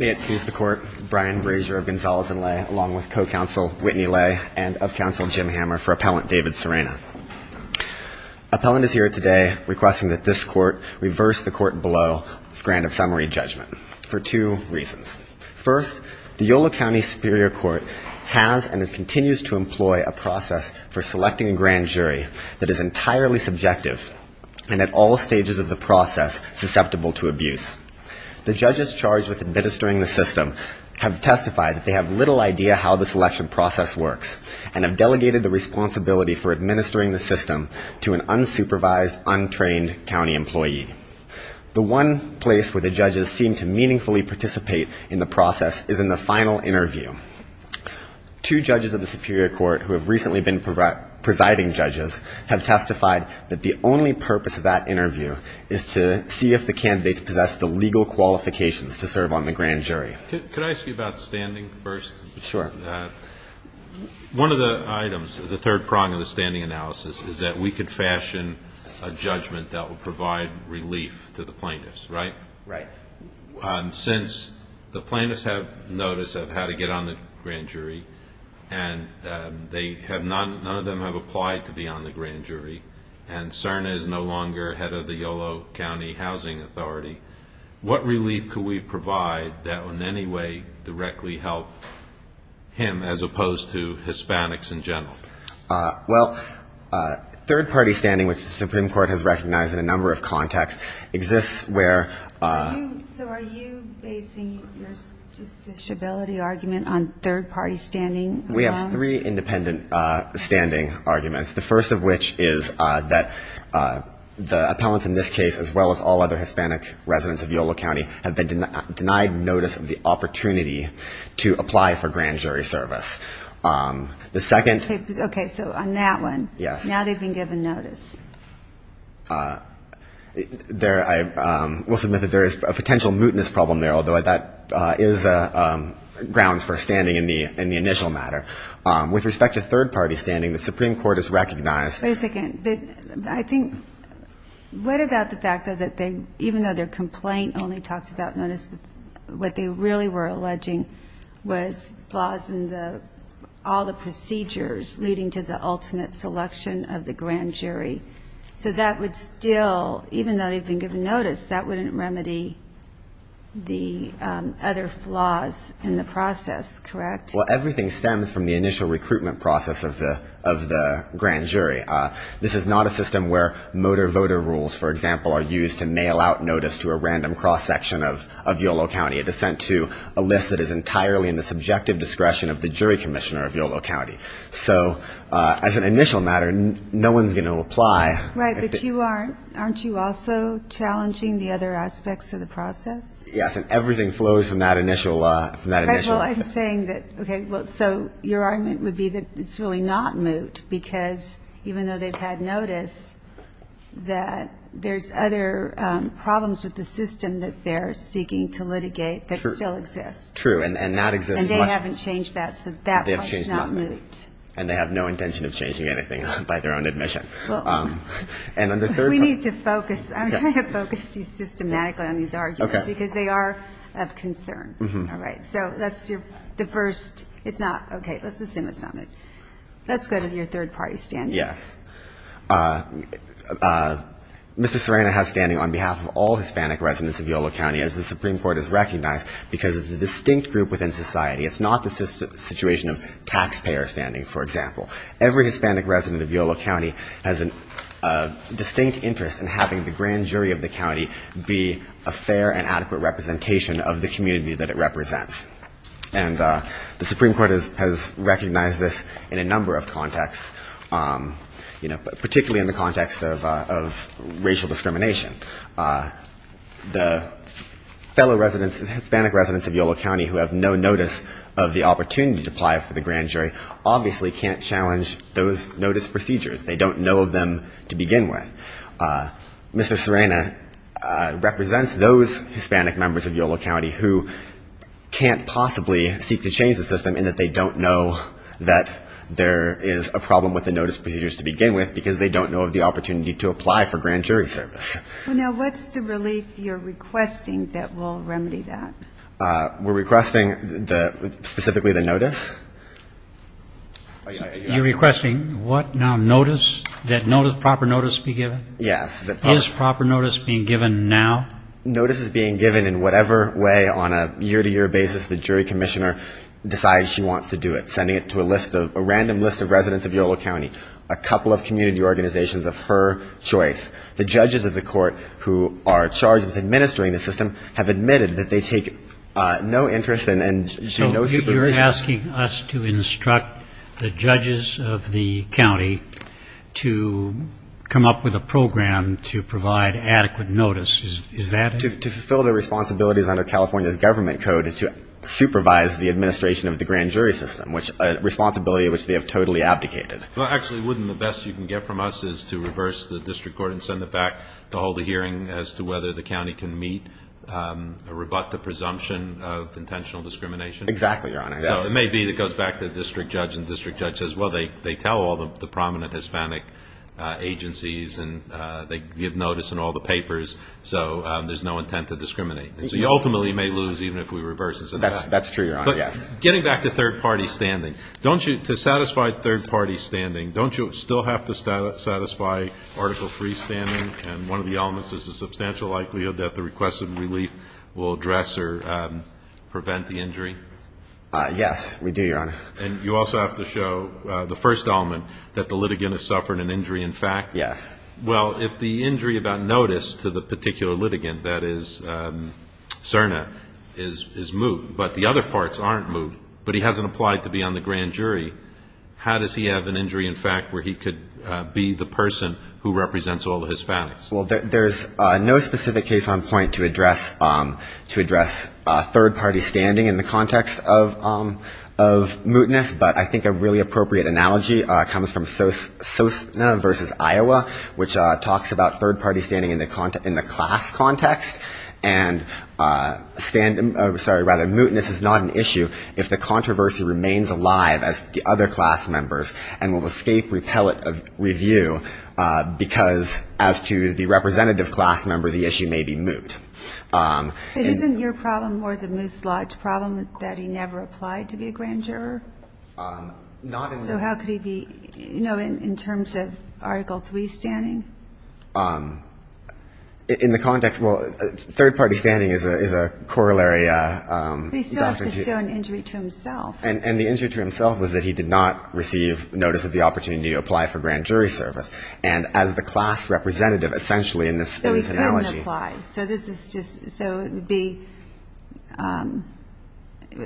May it please the Court, Brian Razor of Gonzales and Lay, along with co-counsel Whitney Lay and of co-counsel Jim Hammer for Appellant David Serena. Appellant is here today requesting that this Court reverse the Court below's grant of summary judgment for two reasons. First, the Yolo County Superior Court has and continues to employ a process for selecting a grand jury that is entirely subjective and at all stages of the process susceptible to abuse. The judges charged with administering the system have little idea how the selection process works and have delegated the responsibility for administering the system to an unsupervised, untrained county employee. The one place where the judges seem to meaningfully participate in the process is in the final interview. Two judges of the Superior Court who have recently been presiding judges have testified that the only purpose of that interview is to see if the candidates possess the legal qualifications to serve on the grand jury. Could I ask you about standing first? Sure. One of the items, the third prong of the standing analysis is that we could fashion a judgment that would provide relief to the plaintiffs, right? Right. Since the plaintiffs have notice of how to get on the grand jury and none of them have applied to be on the grand jury and Serena is no longer head of the Yolo County Housing Authority, what relief could we provide that would in any way directly help him as opposed to Hispanics in general? Well, third party standing which the Supreme Court has recognized in a number of contexts exists where... So are you basing your justiciability argument on third party standing? We have three independent standing arguments. The first of which is that the appellants in this case as well as all other Hispanic residents of Yolo County have been denied notice of the opportunity to apply for grand jury service. The second... Okay, so on that one. Yes. Now they've been given notice. I will submit that there is a potential mootness problem there although that is grounds for standing in the initial matter. With respect to third party standing, the Supreme Court has recognized... Wait a second. I think... What about the fact that even though their complaint only talked about notice, what they really were alleging was flaws in all the procedures leading to the ultimate selection of the grand jury. So that would still, even though they've been given notice, that wouldn't remedy the other flaws in the process, correct? Well, everything stems from the initial recruitment process of the grand jury. This is not a system where motor voter rules, for example, are used to mail out notice to a random cross section of Yolo County. It is sent to a list that is entirely in the subjective discretion of the jury commissioner of Yolo County. So as an initial matter, no one's going to apply... Right, but you aren't. Aren't you also challenging the other aspects of the process? Yes, and everything flows from that initial... First of all, I'm saying that, okay, so your argument would be that it's really not moot because even though they've had notice, that there's other problems with the system that they're seeking to litigate that still exist. True, and that exists... And they haven't changed that, so that part is not moot. And they have no intention of changing anything by their own admission. And on the third... We need to focus. I'm going to focus you systematically on these arguments because they are of concern. All right, so that's the first... It's not... Okay, let's assume it's not moot. Let's go to your third party standing. Yes. Mr. Serena has standing on behalf of all Hispanic residents of Yolo County, as the Supreme Court has recognized, because it's a distinct group within society. It's not the situation of taxpayer standing, for example. Every Hispanic resident of Yolo County has a distinct interest in having the grand jury of the county be a fair and adequate representation of the community that it represents. And the Supreme Court has recognized this in a number of contexts, particularly in the context of racial discrimination. The fellow Hispanic residents of Yolo County who have no notice of the opportunity to apply for the grand jury obviously can't challenge those notice procedures. They don't know of them to begin with. Mr. Serena represents those Hispanic members of Yolo County who can't possibly seek to change the system in that they don't know that there is a problem with the notice procedures to begin with because they don't know of the opportunity to apply for grand jury service. Now, what's the relief you're requesting that will remedy that? We're requesting specifically the notice. You're requesting what now? Notice? That proper notice be given? Yes. Is proper notice being given now? Notice is being given in whatever way on a year-to-year basis the jury commissioner decides she wants to do it. Sending it to a list of, a random list of residents of Yolo County. A couple of community organizations of her choice. The judges of the court who are charged with administering the system have admitted that they take no interest and no supervision. You're asking us to instruct the judges of the county to come up with a program to provide adequate notice. Is that it? To fulfill their responsibilities under California's government code to supervise the administration of the grand jury system, a responsibility which they have totally abdicated. Well, actually, wouldn't the best you can get from us is to reverse the district court and send it back to hold a hearing as to whether the county can meet, rebut the presumption of intentional discrimination? Exactly, Your Honor. Yes. So it may be that it goes back to the district judge and the district judge says, well, they tell all the prominent Hispanic agencies and they give notice in all the papers, so there's no intent to discriminate. And so you ultimately may lose even if we reverse it. That's true, Your Honor. Yes. Getting back to third-party standing, don't you, to satisfy third-party standing, don't you still have to satisfy Article III standing? And one of the elements is the substantial likelihood that the request of relief will address or prevent the injury? Yes, we do, Your Honor. And you also have to show the first element, that the litigant has suffered an injury in fact? Yes. Well, if the injury about notice to the particular litigant, that is CERNA, is moved, but the other parts aren't moved, but he hasn't applied to be on the grand jury, how does he have an injury in fact where he could be the person who represents all the Hispanics? There's no specific case on point to address third-party standing in the context of mootness, but I think a really appropriate analogy comes from Sosna v. Iowa, which talks about third-party standing in the class context. And mootness is not an issue if the controversy remains alive as the other class members and will escape repellent review, because as to the representative class member, the issue may be moot. But isn't your problem more the moot-slot problem, that he never applied to be a grand juror? Not in the... So how could he be, you know, in terms of Article III standing? In the context, well, third-party standing is a corollary... He still has to show an injury to himself. And the injury to himself was that he did not receive notice of the opportunity to apply for grand jury service. And as the class representative, essentially in this analogy... So he couldn't apply. So this is just, so it would be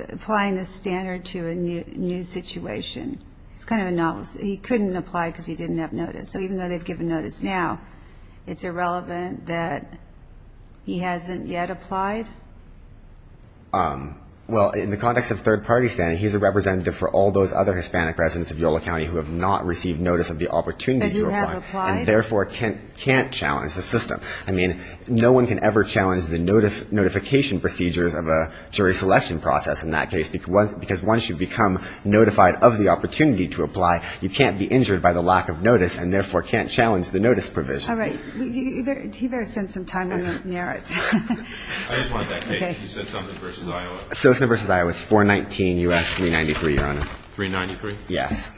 applying the standard to a new situation. It's kind of a novice. He couldn't apply because he didn't have notice. So even though they've given notice now, it's irrelevant that he hasn't yet applied? Well, in the context of third-party standing, he's a representative for all those other Hispanic residents of Yolo County who have not received notice of the opportunity to apply. That he hasn't applied? And therefore can't challenge the system. I mean, no one can ever challenge the notification procedures of a jury selection process in that case, because once you become notified of the opportunity to apply, you can't be injured by the lack of notice, and therefore can't challenge the notice provision. All right. You better spend some time on the merits. I just wanted that case. You said Sosna v. Iowa. Sosna v. Iowa. It's 419 U.S. 393, Your Honor. 393? Yes.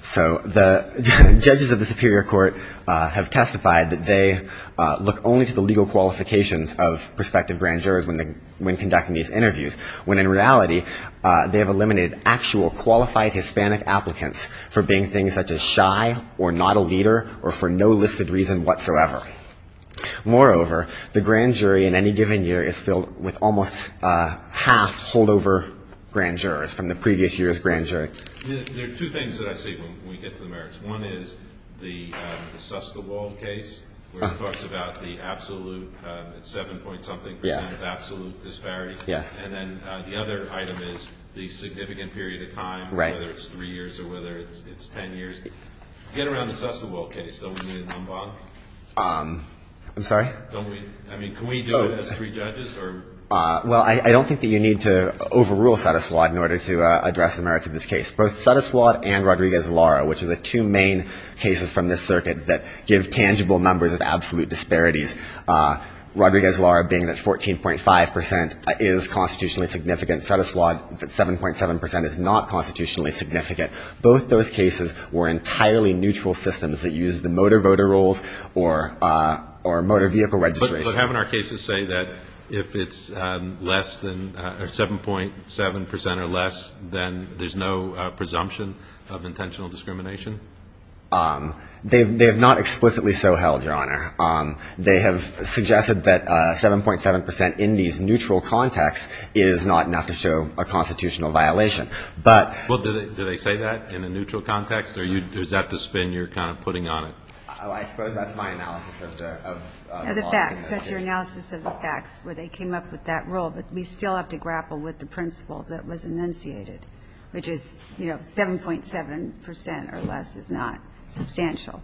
So the judges of the Superior Court have testified that they look only to the legal qualifications of prospective grand jurors when conducting these interviews, when in reality they have eliminated actual qualified Hispanic applicants for being things such as shy or not a leader or for no listed reason whatsoever. Moreover, the grand jury in any given year is filled with almost half holdover grand jurors from the previous year's grand jury. There are two things that I see when we get to the merits. One is the Suss the Wall case, where it talks about the absolute, 7-point-something percent of absolute disparity, and then the other item is the significant period of time, whether it's three years or whether it's 10 years. Get around the Suss the Wall case. Don't we need a number on it? I'm sorry? Don't we? I mean, can we do it as three judges or? Well, I don't think that you need to overrule Sotus Watt in order to address the merits of this case. Both Sotus Watt and Rodriguez-Lara, which are the two main cases from this circuit that give tangible numbers of absolute disparities, Rodriguez-Lara being that 14.5 percent is constitutionally significant. Sotus Watt, 7.7 percent is not constitutionally significant. Both those cases were entirely neutral systems that used the motor voter rolls or motor vehicle registration. But haven't our cases say that if it's less than 7.7 percent or less, then there's no presumption of intentional discrimination? They have not explicitly so held, Your Honor. They have suggested that 7.7 percent in these neutral contexts is not enough to show a constitutional violation. Well, do they say that in a neutral context? Or is that the spin you're kind of putting on it? I suppose that's my analysis of the law. That's your analysis of the facts, where they came up with that rule. But we still have to grapple with the principle that was enunciated, which is 7.7 percent or less is not substantial.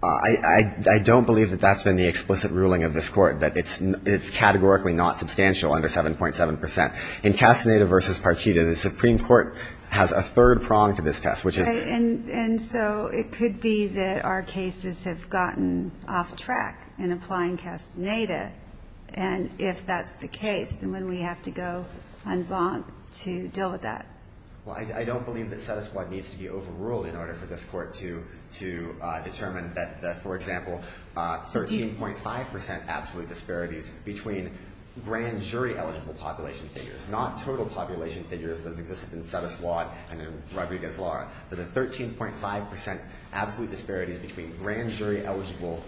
I don't believe that that's been the explicit ruling of this Court, that it's categorically not substantial under 7.7 percent. In Castaneda v. Partita, the Supreme Court has a third prong to this test, which is... And so it could be that our cases have gotten off track in applying Castaneda. And if that's the case, then wouldn't we have to go en banc to deal with that? Well, I don't believe that Sotus Watt needs to be overruled in order for this Court to be able to do that. I think that the 13.5 percent absolute disparities between grand jury-eligible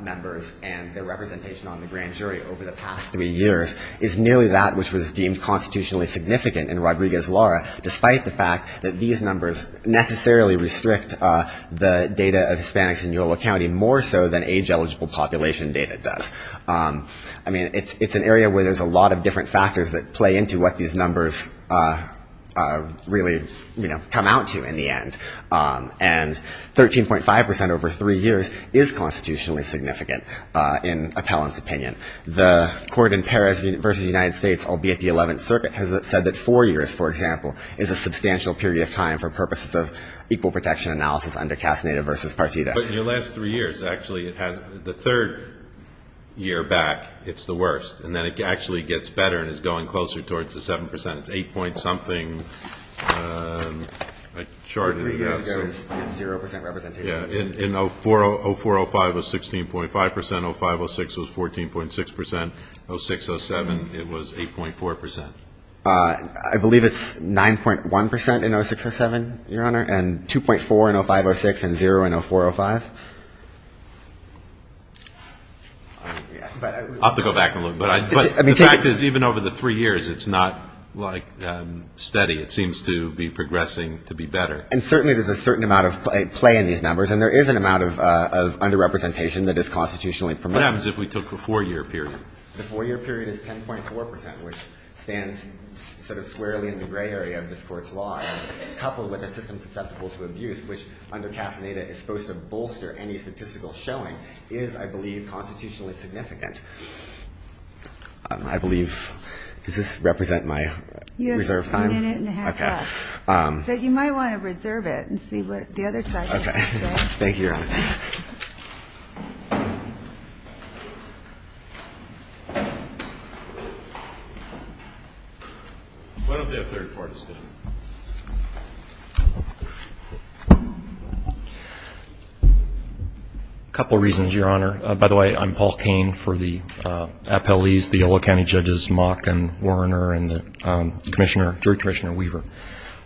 members and their representation on the grand jury over the past three years is nearly that which was deemed constitutionally significant in Rodriguez-Lara, despite the fact that these numbers necessarily restrict the data of Hispanics in Yolo County more so than age-eligible population data does. I mean, it's an area where there's a lot of different factors that play into what these numbers really come out to in the end. And 13.5 percent over three years is constitutionally significant in Appellant's opinion. The Court in Perez v. United States, albeit the Eleventh Circuit, has said that four years, for example, is a substantial period of time for purposes of equal protection analysis under Castaneda v. Partita. But in your last three years, actually, it has the third year back, it's the worst. And then it actually gets better and is going closer towards the 7 percent. It's 8 point something. I charted it out, so yes, in 04-05, it was 16.5 percent. 05-06 was 14.6 percent. 06-07, it was 8.4 percent. I believe it's 9.1 percent in 06-07, Your Honor, and 2.4 in 05-06 and 0 in 04-05. I'll have to go back and look. But the fact is, even over the three years, it's not, like, steady. It seems to be progressing to be better. And certainly there's a certain amount of play in these numbers, and there is an amount of underrepresentation that is constitutionally permissible. What happens if we took the four-year period? The four-year period is 10.4 percent, which stands sort of squarely in the gray area of this Court's law, coupled with a system susceptible to abuse, which under Casaneda is supposed to bolster any statistical showing, is, I believe, constitutionally significant. I believe, does this represent my reserve time? You have a minute and a half left. Okay. But you might want to reserve it and see what the other side has to say. Okay. Thank you, Your Honor. Why don't they have third-party standing? A couple reasons, Your Honor. By the way, I'm Paul Kane for the appellees, the Yolo County judges, Mock and Werner and the commissioner, Jury Commissioner Weaver.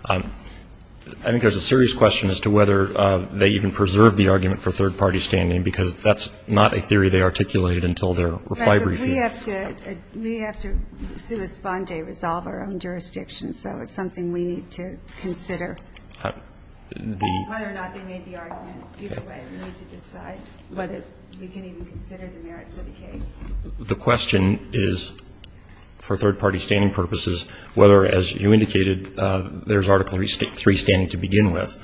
I think there's a serious question as to whether they even preserve the argument for third-party standing, because that's not a theory they articulated until their reply briefing. We have to respond to a resolver on jurisdiction, so it's something we need to consider. Whether or not they made the argument either way, we need to decide whether we can even consider the merits of the case. The question is, for third-party standing purposes, whether, as you indicated, there's Article III standing to begin with.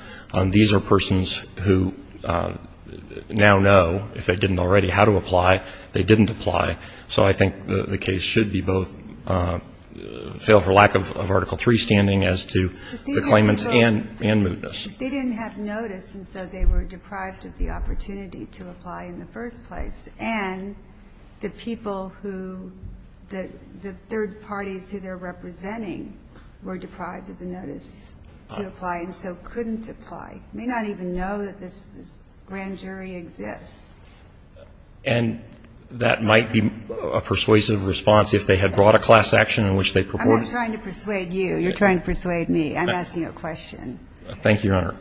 These are persons who now know, if they didn't already, how to apply. They didn't apply. So I think the case should be both fail for lack of Article III standing as to the claimants and mootness. But they didn't have notice, and so they were deprived of the opportunity to apply in the first place. And the people who the third parties who they're representing were deprived of the notice to apply and so couldn't apply, may not even know that this grand jury exists. And that might be a persuasive response if they had brought a class action in which they purported to. I'm not trying to persuade you. You're trying to persuade me. I'm asking a question. Thank you, Your Honor.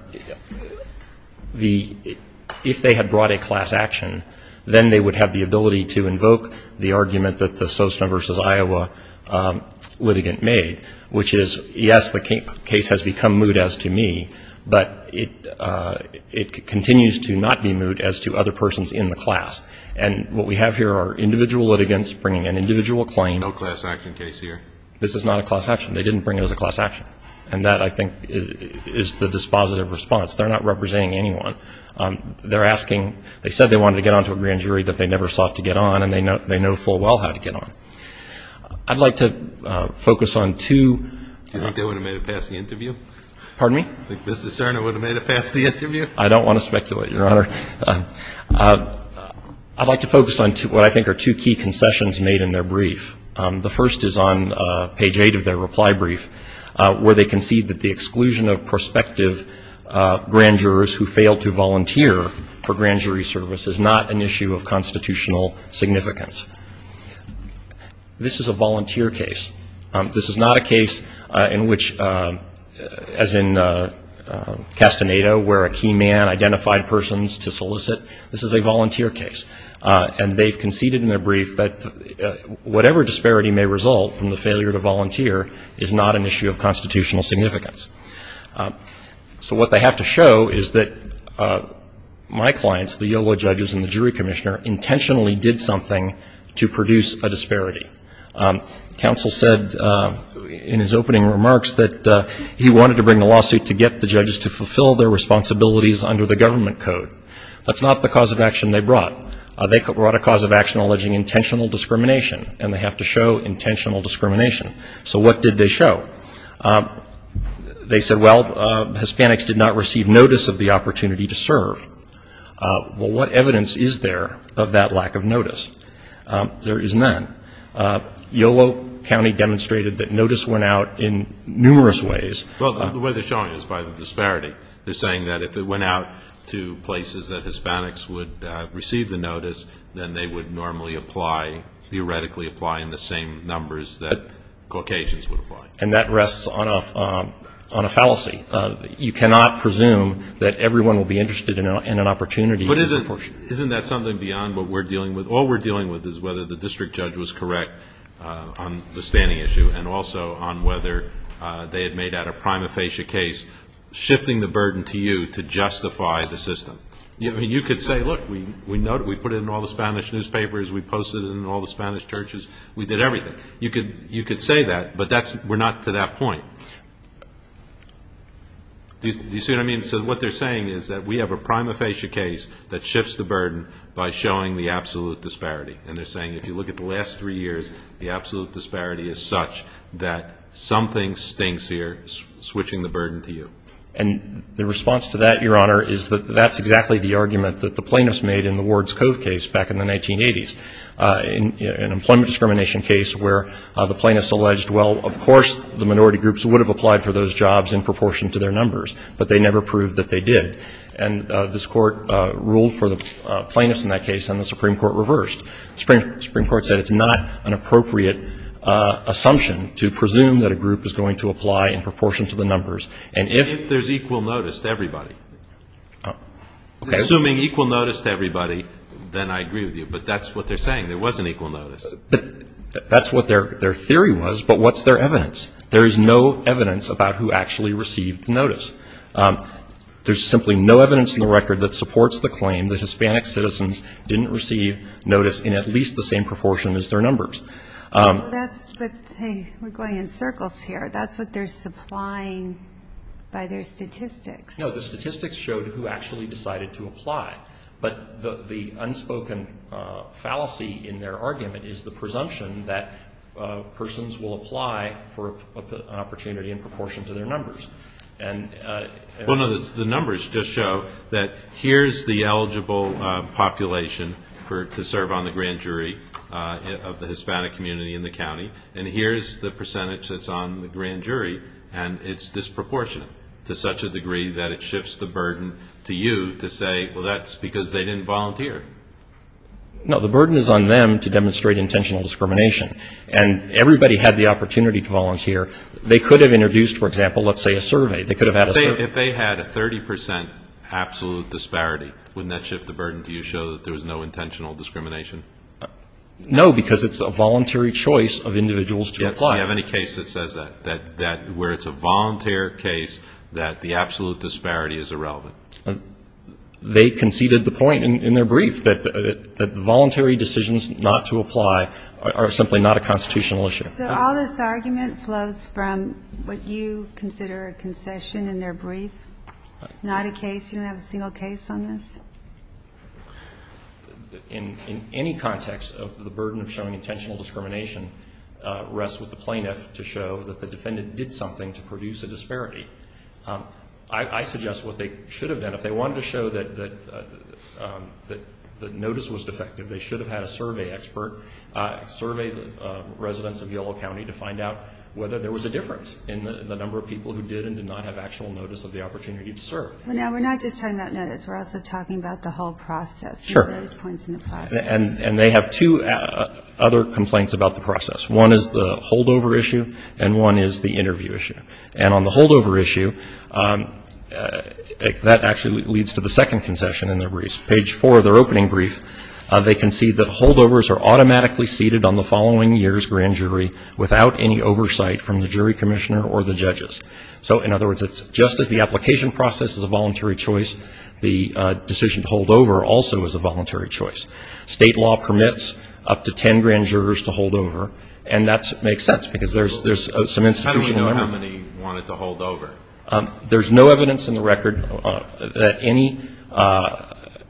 If they had brought a class action, then they would have the ability to invoke the argument that the Sosna v. Iowa litigant made, which is, yes, the case has become moot as to me, but it continues to not be moot as to other persons in the class. And what we have here are individual litigants bringing an individual claim. No class action case here. This is not a class action. They didn't bring it as a class action. And that, I think, is the dispositive response. They're not representing anyone. They're asking they said they wanted to get on to a grand jury that they never sought to get on, and they know full well how to get on. I'd like to focus on two. Do you think they would have made it past the interview? Pardon me? Do you think Mr. Cerner would have made it past the interview? I don't want to speculate, Your Honor. I'd like to focus on what I think are two key concessions made in their brief. The first is on page 8 of their reply brief, where they concede that the exclusion of prospective grand jurors who fail to volunteer for grand jury service is not an issue of constitutional significance. This is a volunteer case. This is not a case in which, as in Castaneda, where a key man identified persons to solicit. This is a volunteer case. And they've conceded in their brief that whatever disparity may result from the failure to volunteer is not an issue of constitutional significance. So what they have to show is that my clients, the YOLO judges and the jury commissioner intentionally did something to produce a disparity. Counsel said in his opening remarks that he wanted to bring a lawsuit to get the judges to fulfill their responsibilities under the government code. That's not the cause of action they brought. They brought a cause of action alleging intentional discrimination, and they have to show intentional discrimination. So what did they show? They said, well, Hispanics did not receive notice of the opportunity to serve. Well, what evidence is there of that lack of notice? There is none. YOLO County demonstrated that notice went out in numerous ways. Well, the way they're showing it is by the disparity. They're saying that if it went out to places that Hispanics would receive the notice, then they would normally apply, theoretically apply in the same numbers that Caucasians would apply. And that rests on a fallacy. You cannot presume that everyone will be interested in an opportunity. But isn't that something beyond what we're dealing with? All we're dealing with is whether the district judge was correct on the standing issue and also on whether they had made out a prima facie case, shifting the burden to you to justify the system. I mean, you could say, look, we put it in all the Spanish newspapers. We posted it in all the Spanish churches. We did everything. You could say that, but we're not to that point. Do you see what I mean? So what they're saying is that we have a prima facie case that shifts the burden by showing the absolute disparity. And they're saying if you look at the last three years, the absolute disparity is such that something stinks here switching the burden to you. And the response to that, Your Honor, is that that's exactly the argument that the plaintiffs made in the Ward's Cove case back in the 1980s, an employment discrimination case where the plaintiffs alleged, well, of course the minority groups would have applied for those jobs in proportion to their numbers, but they never proved that they did. And this Court ruled for the plaintiffs in that case, and the Supreme Court reversed. The Supreme Court said it's not an appropriate assumption to presume that a group is going to apply in proportion to the numbers. And if there's equal notice to everybody, assuming equal notice to everybody, then I agree with you. But that's what they're saying. There was an equal notice. But that's what their theory was. But what's their evidence? There is no evidence about who actually received notice. There's simply no evidence in the record that supports the claim that Hispanic citizens didn't receive notice in at least the same proportion as their numbers. But that's the thing. We're going in circles here. That's what they're supplying by their statistics. No, the statistics showed who actually decided to apply. But the unspoken fallacy in their argument is the presumption that persons will apply for an opportunity in proportion to their numbers. Well, no, the numbers just show that here's the eligible population to serve on the grand jury of the Hispanic community in the county, and here's the percentage that's on the grand jury, and it's disproportionate to such a degree that it shifts the burden to you to say, well, that's because they didn't volunteer. No, the burden is on them to demonstrate intentional discrimination. And everybody had the opportunity to volunteer. They could have introduced, for example, let's say a survey. They could have had a survey. If they had a 30 percent absolute disparity, wouldn't that shift the burden to you to show that there was no intentional discrimination? No, because it's a voluntary choice of individuals to apply. Do you have any case that says that, where it's a volunteer case, that the absolute disparity is irrelevant? They conceded the point in their brief that voluntary decisions not to apply are simply not a constitutional issue. So all this argument flows from what you consider a concession in their brief? Not a case? You don't have a single case on this? In any context, the burden of showing intentional discrimination rests with the plaintiff to show that the defendant did something to produce a disparity. I suggest what they should have done. If they wanted to show that notice was defective, they should have had a survey expert survey the residents of Yolo County to find out whether there was a difference in the number of people who did We're not just talking about notice. We're also talking about the whole process, the various points in the process. And they have two other complaints about the process. One is the holdover issue, and one is the interview issue. And on the holdover issue, that actually leads to the second concession in their briefs. Page four of their opening brief, they concede that holdovers are automatically ceded on the following year's grand jury without any oversight from the jury commissioner or the judges. So, in other words, it's just as the application process is a voluntary choice, the decision to holdover also is a voluntary choice. State law permits up to ten grand jurors to holdover, and that makes sense because there's some institutional... How do you know how many wanted to holdover? There's no evidence in the record that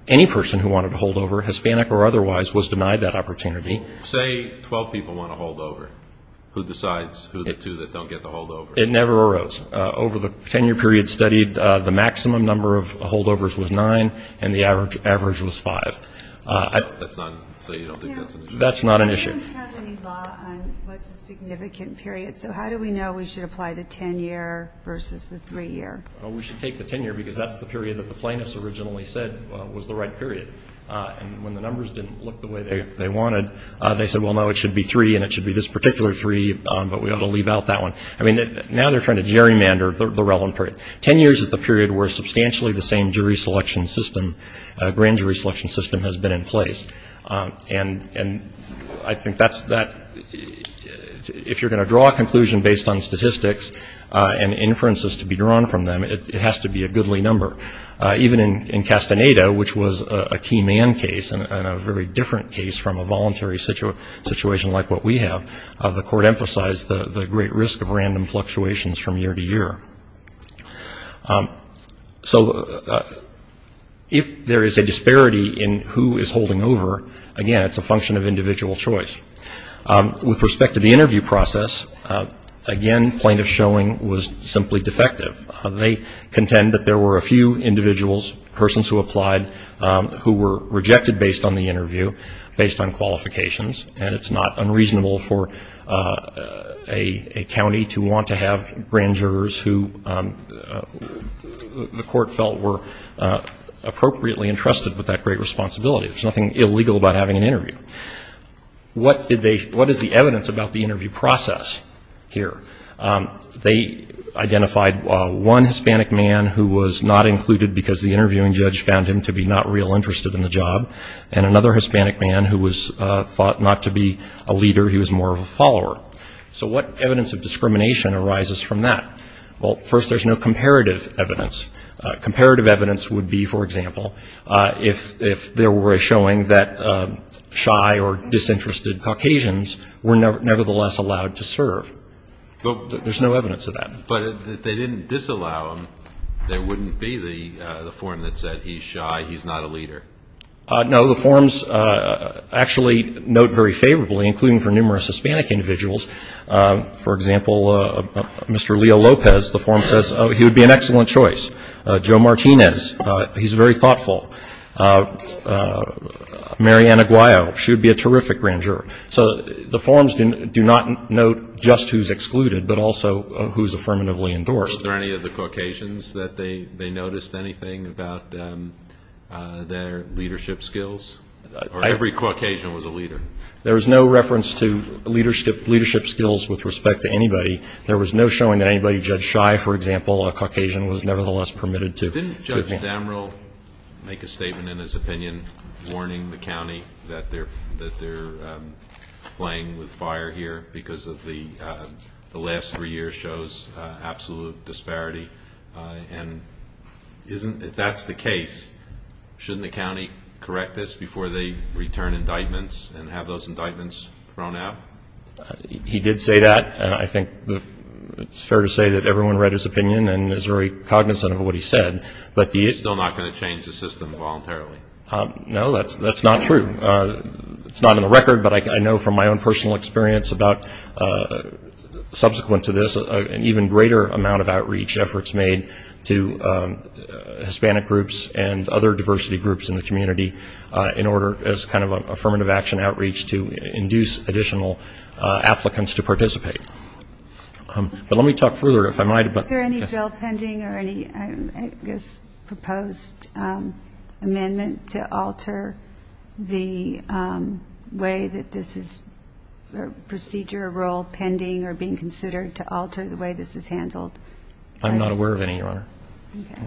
any person who wanted to holdover, Hispanic or otherwise, was denied that opportunity. Say 12 people want to holdover. Who decides who the two that don't get the holdover? It never arose. Over the ten-year period studied, the maximum number of holdovers was nine, and the average was five. That's not an issue? That's not an issue. We don't have any law on what's a significant period, so how do we know we should apply the ten-year versus the three-year? Well, we should take the ten-year because that's the period that the plaintiffs originally said was the right period. And when the numbers didn't look the way they wanted, they said, well, no, it should be three and it should be this particular three, but we ought to leave out that one. I mean, now they're trying to gerrymander the relevant period. Ten years is the period where substantially the same jury selection system, grand jury selection system, has been in place. And I think that's that. If you're going to draw a conclusion based on statistics and inferences to be drawn from them, it has to be a goodly number. Even in Castaneda, which was a key man case and a very different case from a voluntary situation like what we have, the court emphasized the great risk of random fluctuations from year to year. So if there is a disparity in who is holding over, again, it's a function of individual choice. With respect to the interview process, again, plaintiff showing was simply defective. They contend that there were a few individuals, persons who applied, who were rejected based on the interview, based on qualifications, and it's not unreasonable for a county to want to have grand jurors who the court felt were appropriately entrusted with that great responsibility. There's nothing illegal about having an interview. What is the evidence about the interview process here? They identified one Hispanic man who was not included because the interviewing judge found him to be not real interested in the job, and another Hispanic man who was thought not to be a leader, he was more of a follower. So what evidence of discrimination arises from that? Well, first, there's no comparative evidence. Comparative evidence would be, for example, if there were a showing that shy or disinterested Caucasians were nevertheless allowed to serve. There's no evidence of that. But if they didn't disallow him, there wouldn't be the forum that said he's shy, he's not a leader. No, the forums actually note very favorably, including for numerous Hispanic individuals. For example, Mr. Leo Lopez, the forum says, oh, he would be an excellent choice. Joe Martinez, he's very thoughtful. Mary Ann Aguayo, she would be a terrific grand juror. So the forums do not note just who's excluded, but also who's affirmatively endorsed. Were there any of the Caucasians that they noticed anything about their leadership skills? Every Caucasian was a leader. There was no reference to leadership skills with respect to anybody. There was no showing that anybody, Judge Shy, for example, a Caucasian, was nevertheless permitted to. So didn't Judge Damrell make a statement in his opinion warning the county that they're playing with fire here because the last three years shows absolute disparity? And if that's the case, shouldn't the county correct this before they return indictments and have those indictments thrown out? He did say that. And I think it's fair to say that everyone read his opinion and is very cognizant of what he said. He's still not going to change the system voluntarily. No, that's not true. It's not in the record, but I know from my own personal experience about subsequent to this, an even greater amount of outreach efforts made to Hispanic groups and other diversity groups in the community in order as kind of an affirmative action outreach to induce additional applicants to participate. But let me talk further, if I might. Is there any jail pending or any proposed amendment to alter the way that this is a procedure, a role pending or being considered to alter the way this is handled? I'm not aware of any, Your Honor. Okay.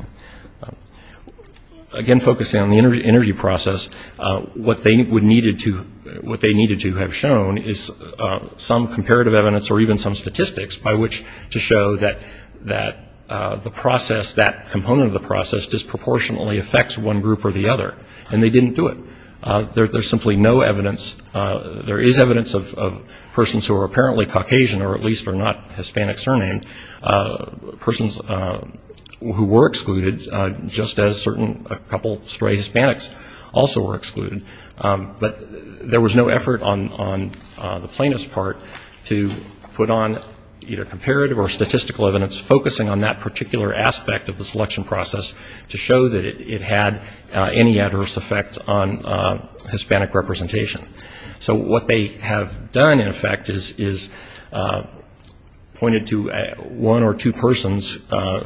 Again, focusing on the interview process, what they needed to have shown is some comparative evidence or even some statistics by which to show that the process, that component of the process disproportionately affects one group or the other. And they didn't do it. There's simply no evidence. There is evidence of persons who are apparently Caucasian or at least are not Hispanic surnamed, persons who were excluded, just as a couple stray Hispanics also were excluded. But there was no effort on the plaintiff's part to put on either comparative or statistical evidence focusing on that particular aspect of the selection process to show that it had any adverse effect on Hispanic representation. So what they have done, in effect, is pointed to one or two persons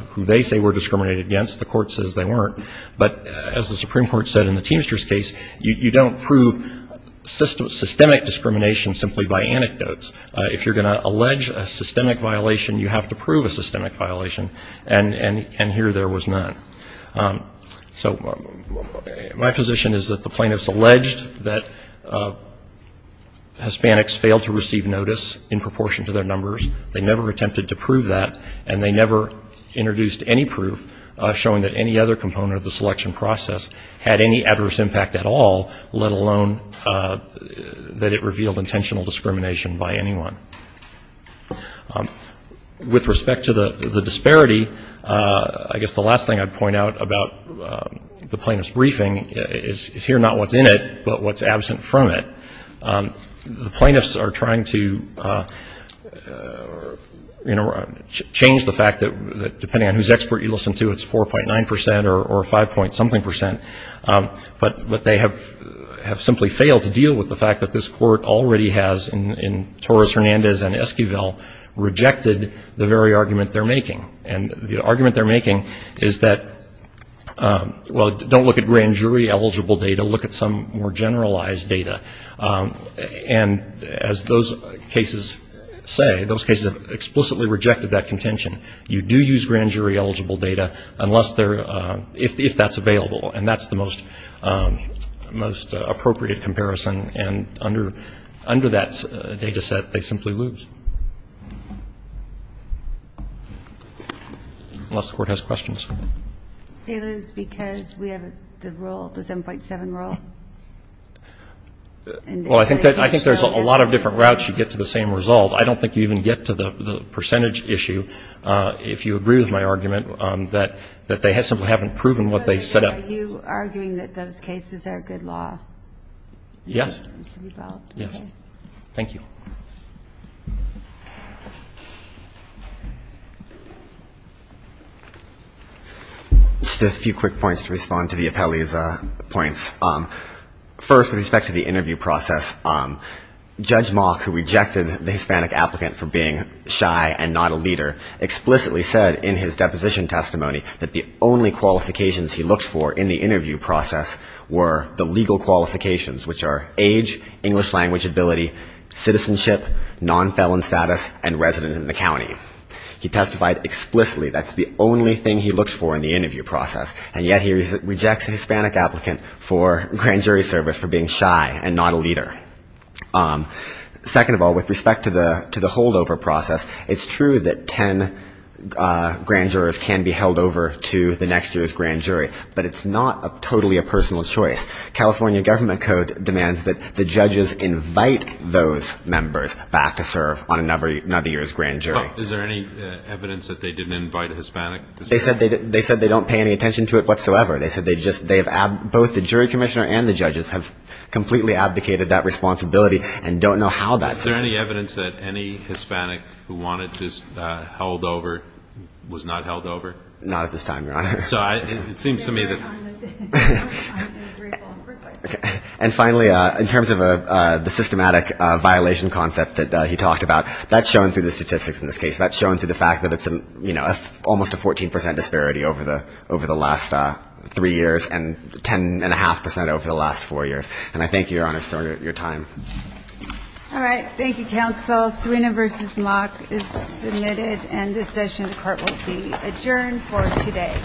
who they say were discriminated against. The court says they weren't. But as the Supreme Court said in the Teamsters case, you don't prove systemic discrimination simply by anecdotes. If you're going to allege a systemic violation, you have to prove a systemic violation. And here there was none. So my position is that the plaintiffs alleged that Hispanics failed to receive notice in proportion to their numbers. They never attempted to prove that. And they never introduced any proof showing that any other component of the selection process had any adverse impact at all, let alone that it revealed intentional discrimination by anyone. With respect to the disparity, I guess the last thing I'd point out about the plaintiff's briefing is here not what's in it, but what's absent from it. The plaintiffs are trying to, you know, change the fact that depending on whose expert you listen to, it's 4.9 percent or 5-point-something percent. But they have simply failed to deal with the fact that this court already has, in Torres-Hernandez and Esquivel, rejected the very argument they're making. And the argument they're making is that, well, don't look at grand jury eligible data. Look at some more generalized data. And as those cases say, those cases have explicitly rejected that contention. You do use grand jury eligible data if that's available. And that's the most appropriate comparison. And under that data set, they simply lose, unless the court has questions. They lose because we have the rule, the 7.7 rule. Well, I think there's a lot of different routes you get to the same result. I don't think you even get to the percentage issue, if you agree with my argument, that they simply haven't proven what they set up. Are you arguing that those cases are good law? Yes. Okay. Thank you. Just a few quick points to respond to the appellee's points. First, with respect to the interview process, Judge Mock, who rejected the Hispanic applicant for being shy and not a leader, explicitly said in his deposition testimony that the only qualifications he looked for in the interview process were the legal qualifications, which are age, English language ability, citizenship, non-felon status, and resident in the county. He testified explicitly that's the only thing he looked for in the interview process. And yet he rejects a Hispanic applicant for grand jury service for being shy and not a leader. Second of all, with respect to the holdover process, it's true that ten grand jurors can be held over to the next year's grand jury, but it's not totally a personal choice. California government code demands that the judges invite those members back to serve on another year's grand jury. Is there any evidence that they didn't invite a Hispanic? They said they don't pay any attention to it whatsoever. They said both the jury commissioner and the judges have completely abdicated that responsibility and don't know how that's... Is there any evidence that any Hispanic who wanted this held over was not held over? Not at this time, Your Honor. So it seems to me that... And finally, in terms of the systematic violation concept that he talked about, that's shown through the statistics in this case. That's shown through the fact that it's almost a 14 percent disparity over the last three years and ten and a half percent over the last four years. And I thank you, Your Honor, for your time. All right. Thank you, counsel. Serena v. Locke is submitted, and this session of court will be adjourned for today. All rise. This court is adjourned. Thank you. Thank you.